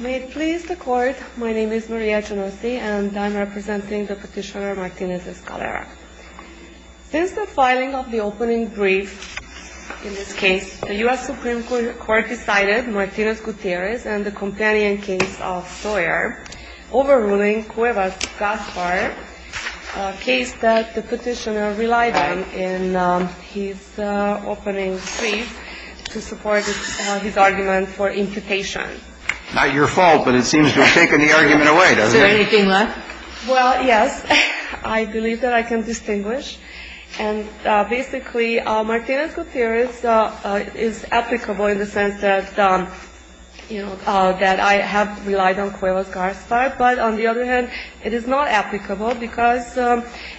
May it please the court, my name is Maria Genovese and I'm representing the petitioner Martinez-Escalera. Since the filing of the opening brief in this case, the U.S. Supreme Court decided Martinez-Gutierrez and the companion case of Sawyer overruling Cuevas-Gaspar, a case that the petitioner relied on in his opening brief to support his argument for imputation. Not your fault, but it seems to have taken the argument away, doesn't it? Is there anything left? Well, yes. I believe that I can distinguish. And basically, Martinez-Gutierrez is applicable in the sense that, you know, that I have relied on Cuevas-Gaspar. But on the other hand, it is not applicable because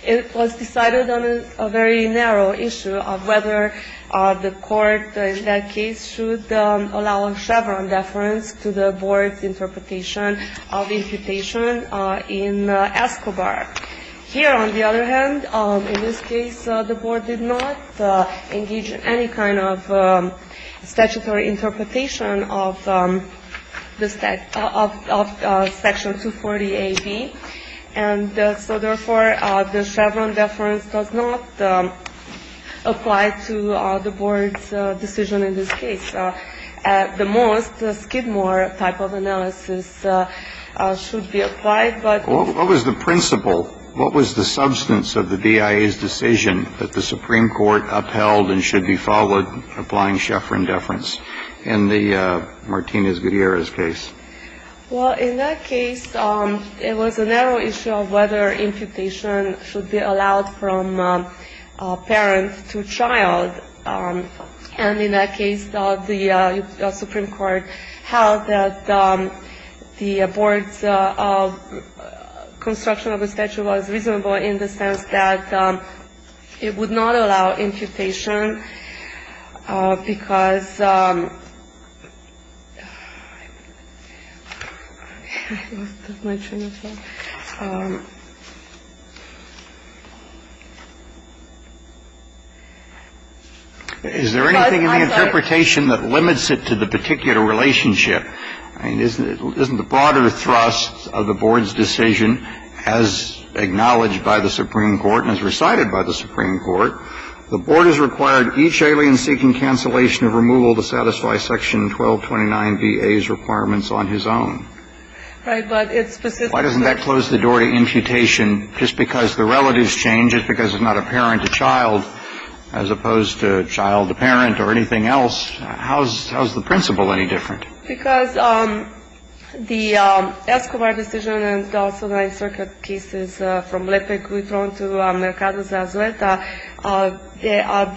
it was decided on a very narrow issue of whether the court in that case should allow a Chevron deference to the board's interpretation of imputation in Escobar. Here, on the other hand, in this case, the board did not engage in any kind of statutory interpretation of the section 240AB. And so, therefore, the Chevron deference does not apply to the board's decision in this case. At the most, the Skidmore type of analysis should be applied, but the board did not. What was the principle, what was the substance of the BIA's decision that the Supreme Court upheld and should be followed applying Chevron deference in the Martinez-Gutierrez case? Well, in that case, it was a narrow issue of whether imputation should be allowed from parent to child. And in that case, the Supreme Court held that the board's construction of the statute was reasonable in the sense that it would not allow imputation because of my train of thought. Is there anything in the interpretation that limits it to the particular relationship? I mean, isn't the broader thrust of the board's decision, as acknowledged by the Supreme Court and as recited by the Supreme Court, the board has required each alien seeking cancellation of removal to satisfy Section 1229BA's requirements on his own? Right. But it's specific. Why doesn't that close the door to imputation just because the relatives change, just because it's not a parent to child, as opposed to child to parent or anything else? How is the principle any different? Because the Escobar decision and also the Ninth Circuit cases from Lepic-Guitron to Mercado de Azuleta,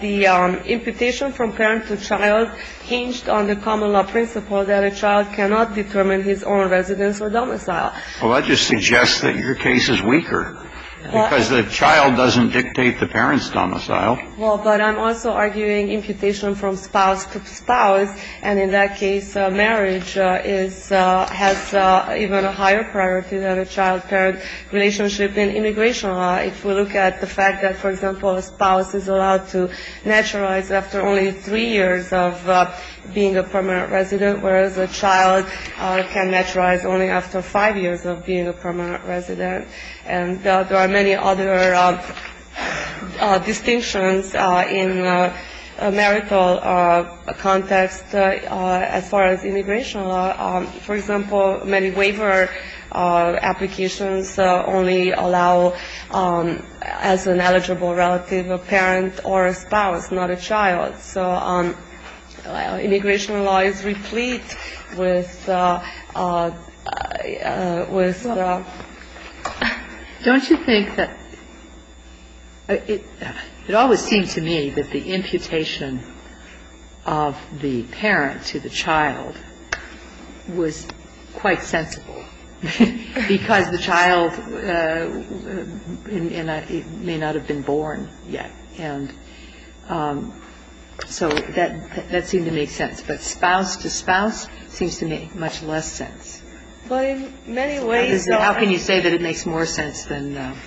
the imputation from parent to child hinged on the common law principle that a child cannot determine his own residence or domicile. Well, that just suggests that your case is weaker because the child doesn't dictate the parent's domicile. Well, but I'm also arguing imputation from spouse to spouse, and in that case, marriage has even a higher priority than a child-parent relationship in immigration law. If we look at the fact that, for example, a spouse is allowed to naturalize after only three years of being a permanent resident, whereas a child can naturalize only after five years of being a permanent resident. And there are many other distinctions in a marital context as far as immigration law. For example, many waiver applications only allow as an eligible relative a parent or a spouse, not a child. So immigration law is replete with the ‑‑ Don't you think that ‑‑ it always seemed to me that the imputation of the parent to the child was quite sensible because the child may not have been born yet. And so that seemed to make sense. But spouse to spouse seems to make much less sense. How can you say that it makes more sense than ‑‑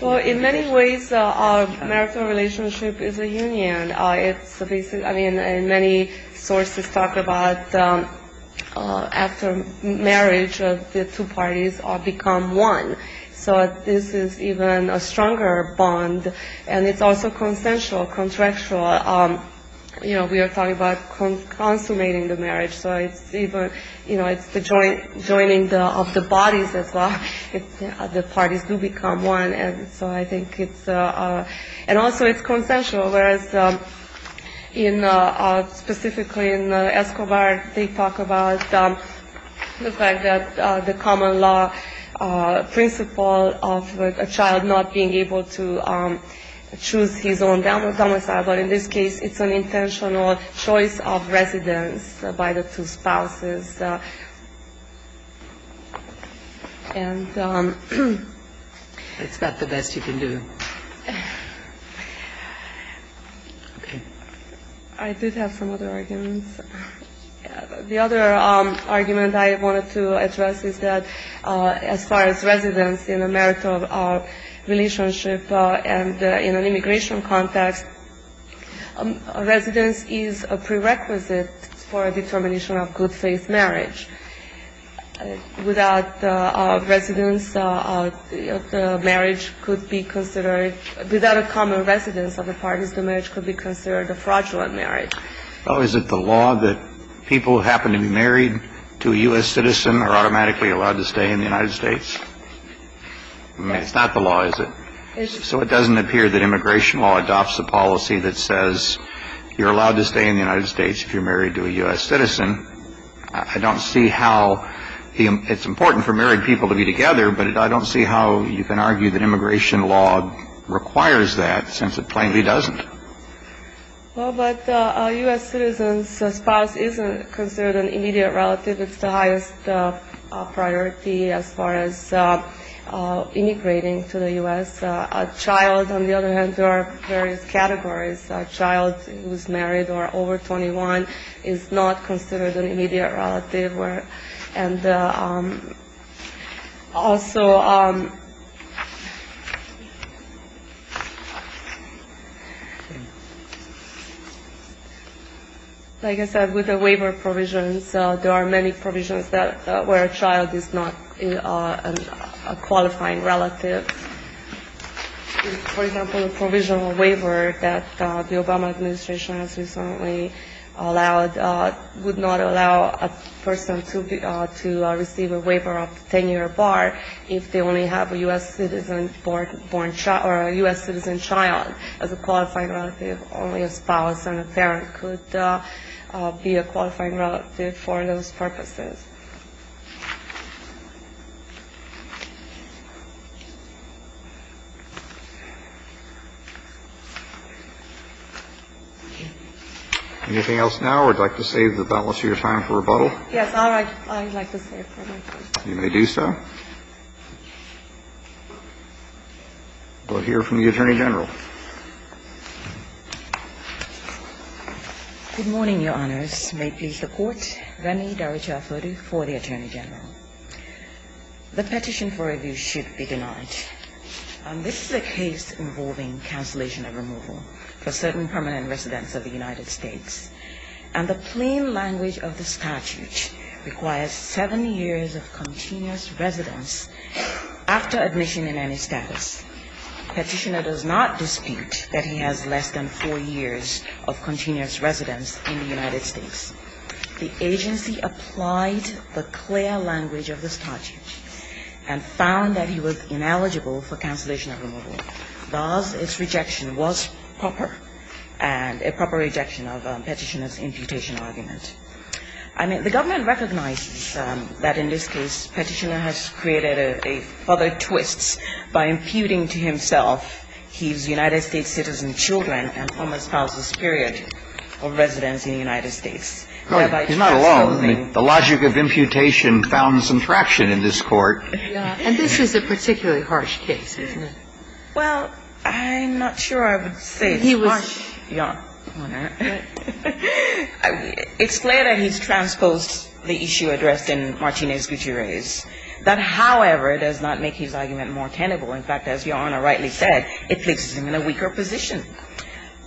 Well, in many ways, a marital relationship is a union. I mean, many sources talk about after marriage, the two parties become one. So this is even a stronger bond. And it's also consensual, contractual. You know, we are talking about consummating the marriage. So it's even ‑‑ you know, it's the joining of the bodies as well. The parties do become one. And so I think it's ‑‑ and also it's consensual, whereas in specifically in Escobar, they talk about the fact that the common law principle of a child not being able to choose his own domicile. But in this case, it's an intentional choice of residence by the two spouses. And ‑‑ It's about the best you can do. Okay. I did have some other arguments. The other argument I wanted to address is that as far as residence in a marital relationship and in an immigration context, residence is a prerequisite for a determination of good faith marriage. Without residence, the marriage could be considered ‑‑ without a common residence of the parties, the marriage could be considered a fraudulent marriage. Oh, is it the law that people who happen to be married to a U.S. citizen are automatically allowed to stay in the United States? It's not the law, is it? So it doesn't appear that immigration law adopts a policy that says you're allowed to stay in the United States if you're married to a U.S. citizen. I don't see how it's important for married people to be together, but I don't see how you can argue that immigration law requires that since it plainly doesn't. Well, but a U.S. citizen's spouse isn't considered an immediate relative. It's the highest priority as far as immigrating to the U.S. A child, on the other hand, there are various categories. A child who is married or over 21 is not considered an immediate relative. And also, like I said, with the waiver provisions, there are many provisions where a child is not a qualifying relative. For example, the provisional waiver that the Obama administration has recently allowed would not allow a person to receive a waiver of tenure or bar if they only have a U.S. citizen child as a qualifying relative. Only a spouse and a parent could be a qualifying relative for those purposes. Anything else now, or would you like to save the balance of your time for rebuttal? Yes. All right. I'd like to save my time. You may do so. We'll hear from the Attorney General. Good morning, Your Honors. May it please the Court. Rani Dharacharapuri for the Attorney General. The petition for review should be denied. This is a case involving cancellation of removal for certain permanent residents of the United States. And the plain language of the statute requires 7 years of continuous residence after admission in any status. Petitioner does not dispute that he has less than 4 years of continuous residence in the United States. The agency applied the clear language of the statute and found that he was ineligible for cancellation of removal. Thus, its rejection was proper and a proper rejection of Petitioner's imputation argument. I mean, the government recognizes that in this case Petitioner has created a further twist by imputing to himself his United States citizen children and former spouse's period of residence in the United States. He's not alone. The logic of imputation found some traction in this Court. And this was a particularly harsh case, isn't it? Well, I'm not sure I would say it's harsh, Your Honor. It's clear that he's transposed the issue addressed in Martinez-Gutierrez. That, however, does not make his argument more tenable. In fact, as Your Honor rightly said, it places him in a weaker position.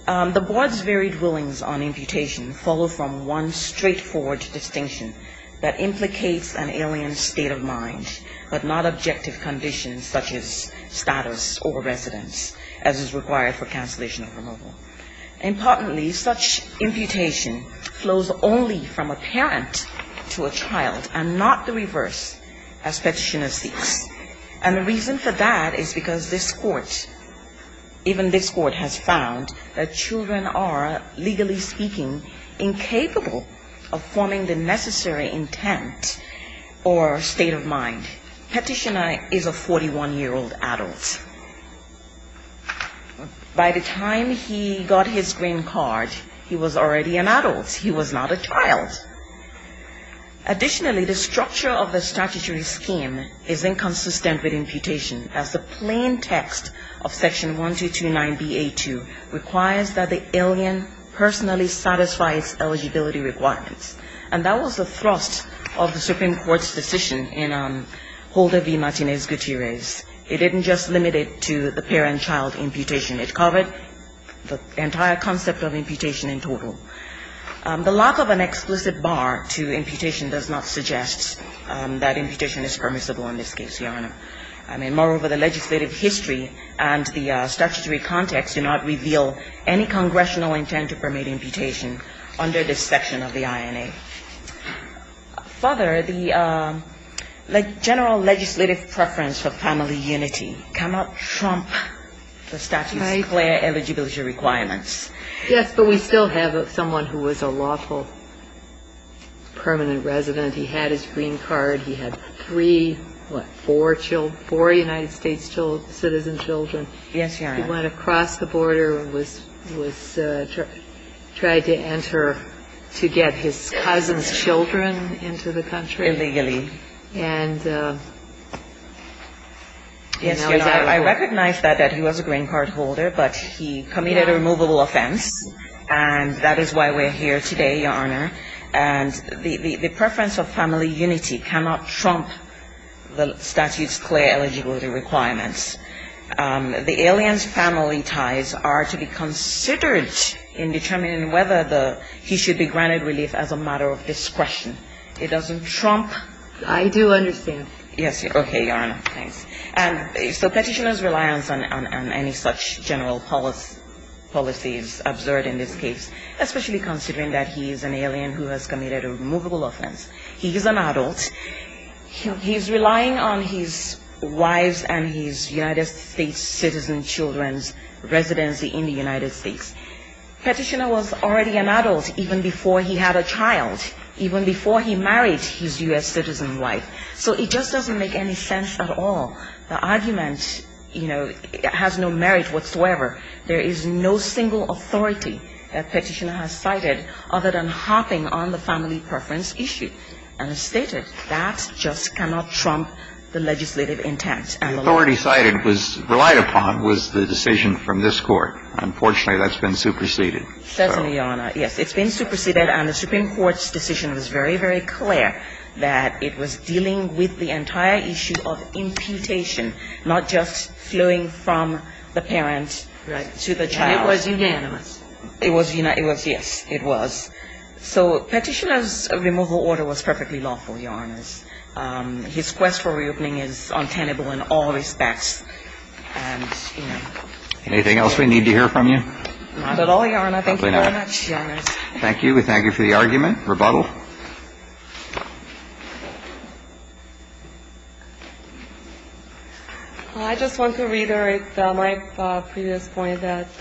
The Board's varied willings on imputation follow from one straightforward distinction that implicates an alien state of mind. But not objective conditions such as status or residence as is required for cancellation of removal. Importantly, such imputation flows only from a parent to a child and not the reverse as Petitioner seeks. And the reason for that is because this Court, even this Court, has found that children are, legally speaking, incapable of forming the necessary intent or state of mind. Petitioner is a 41-year-old adult. By the time he got his green card, he was already an adult. He was not a child. Additionally, the structure of the statutory scheme is inconsistent with imputation as the plain text of Section 1229B-A2 requires that the alien personally satisfy its eligibility requirements. And that was the thrust of the Supreme Court's decision in Holder v. Martinez-Gutierrez. It didn't just limit it to the parent-child imputation. It covered the entire concept of imputation in total. The lack of an explicit bar to imputation does not suggest that imputation is permissible in this case, Your Honor. I mean, moreover, the legislative history and the statutory context do not reveal any congressional intent to permit imputation under this section of the INA. Father, the general legislative preference for family unity cannot trump the statute's clear eligibility requirements. Yes, but we still have someone who was a lawful permanent resident. He had his green card. He had three, what, four United States citizen children. Yes, Your Honor. He went across the border and tried to enter to get his cousin's children into the country. Illegally. Yes, Your Honor. I recognize that he was a green card holder, but he committed a removable offense, and that is why we're here today, Your Honor. And the preference of family unity cannot trump the statute's clear eligibility requirements. The alien's family ties are to be considered in determining whether he should be granted relief as a matter of discretion. It doesn't trump. I do understand. Yes. Okay, Your Honor. Thanks. And so Petitioner's reliance on any such general policy is absurd in this case, especially considering that he is an alien who has committed a removable offense. He is an adult. He's relying on his wives and his United States citizen children's residency in the United States. Petitioner was already an adult even before he had a child, even before he married his U.S. citizen wife. So it just doesn't make any sense at all. The argument, you know, has no merit whatsoever. There is no single authority that Petitioner has cited other than hopping on the family preference issue, and has stated that just cannot trump the legislative intent. The authority cited was relied upon was the decision from this Court. Unfortunately, that's been superseded. Certainly, Your Honor. Yes. It's been superseded, and the Supreme Court's decision was very, very clear that it was entire issue of imputation, not just flowing from the parent to the child. And it was unanimous. It was unanimous. Yes, it was. So Petitioner's removal order was perfectly lawful, Your Honors. His quest for reopening is untenable in all respects. And, you know. Anything else we need to hear from you? Not at all, Your Honor. Thank you very much. Thank you. We thank you for the argument. Rebuttal. I just want to reiterate my previous point that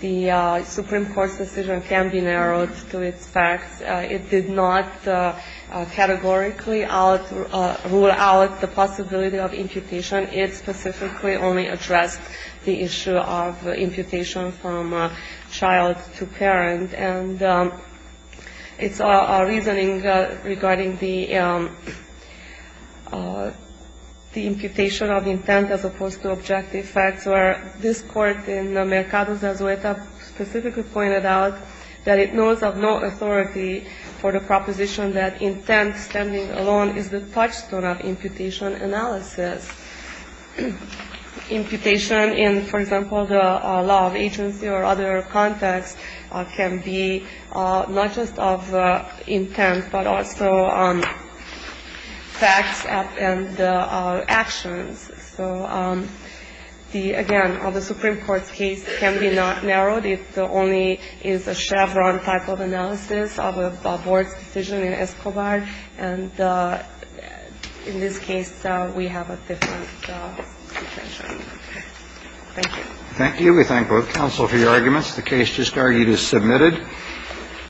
the Supreme Court's decision can be narrowed to its facts. It did not categorically rule out the possibility of imputation. It specifically only addressed the issue of imputation from child to parent. And it's our reasoning regarding the imputation of intent as opposed to objective facts, where this court in Mercado de Azueta specifically pointed out that it knows of no authority for the proposition that intent standing alone is the touchstone of imputation analysis. Imputation in, for example, the law of agency or other contexts can be not just of intent, but also facts and actions. So, again, the Supreme Court's case can be not narrowed. It only is a Chevron type of analysis of a board's decision in Escobar. And in this case, we have a different intention. Thank you. Thank you. We thank both counsel for your arguments. The case just argued is submitted.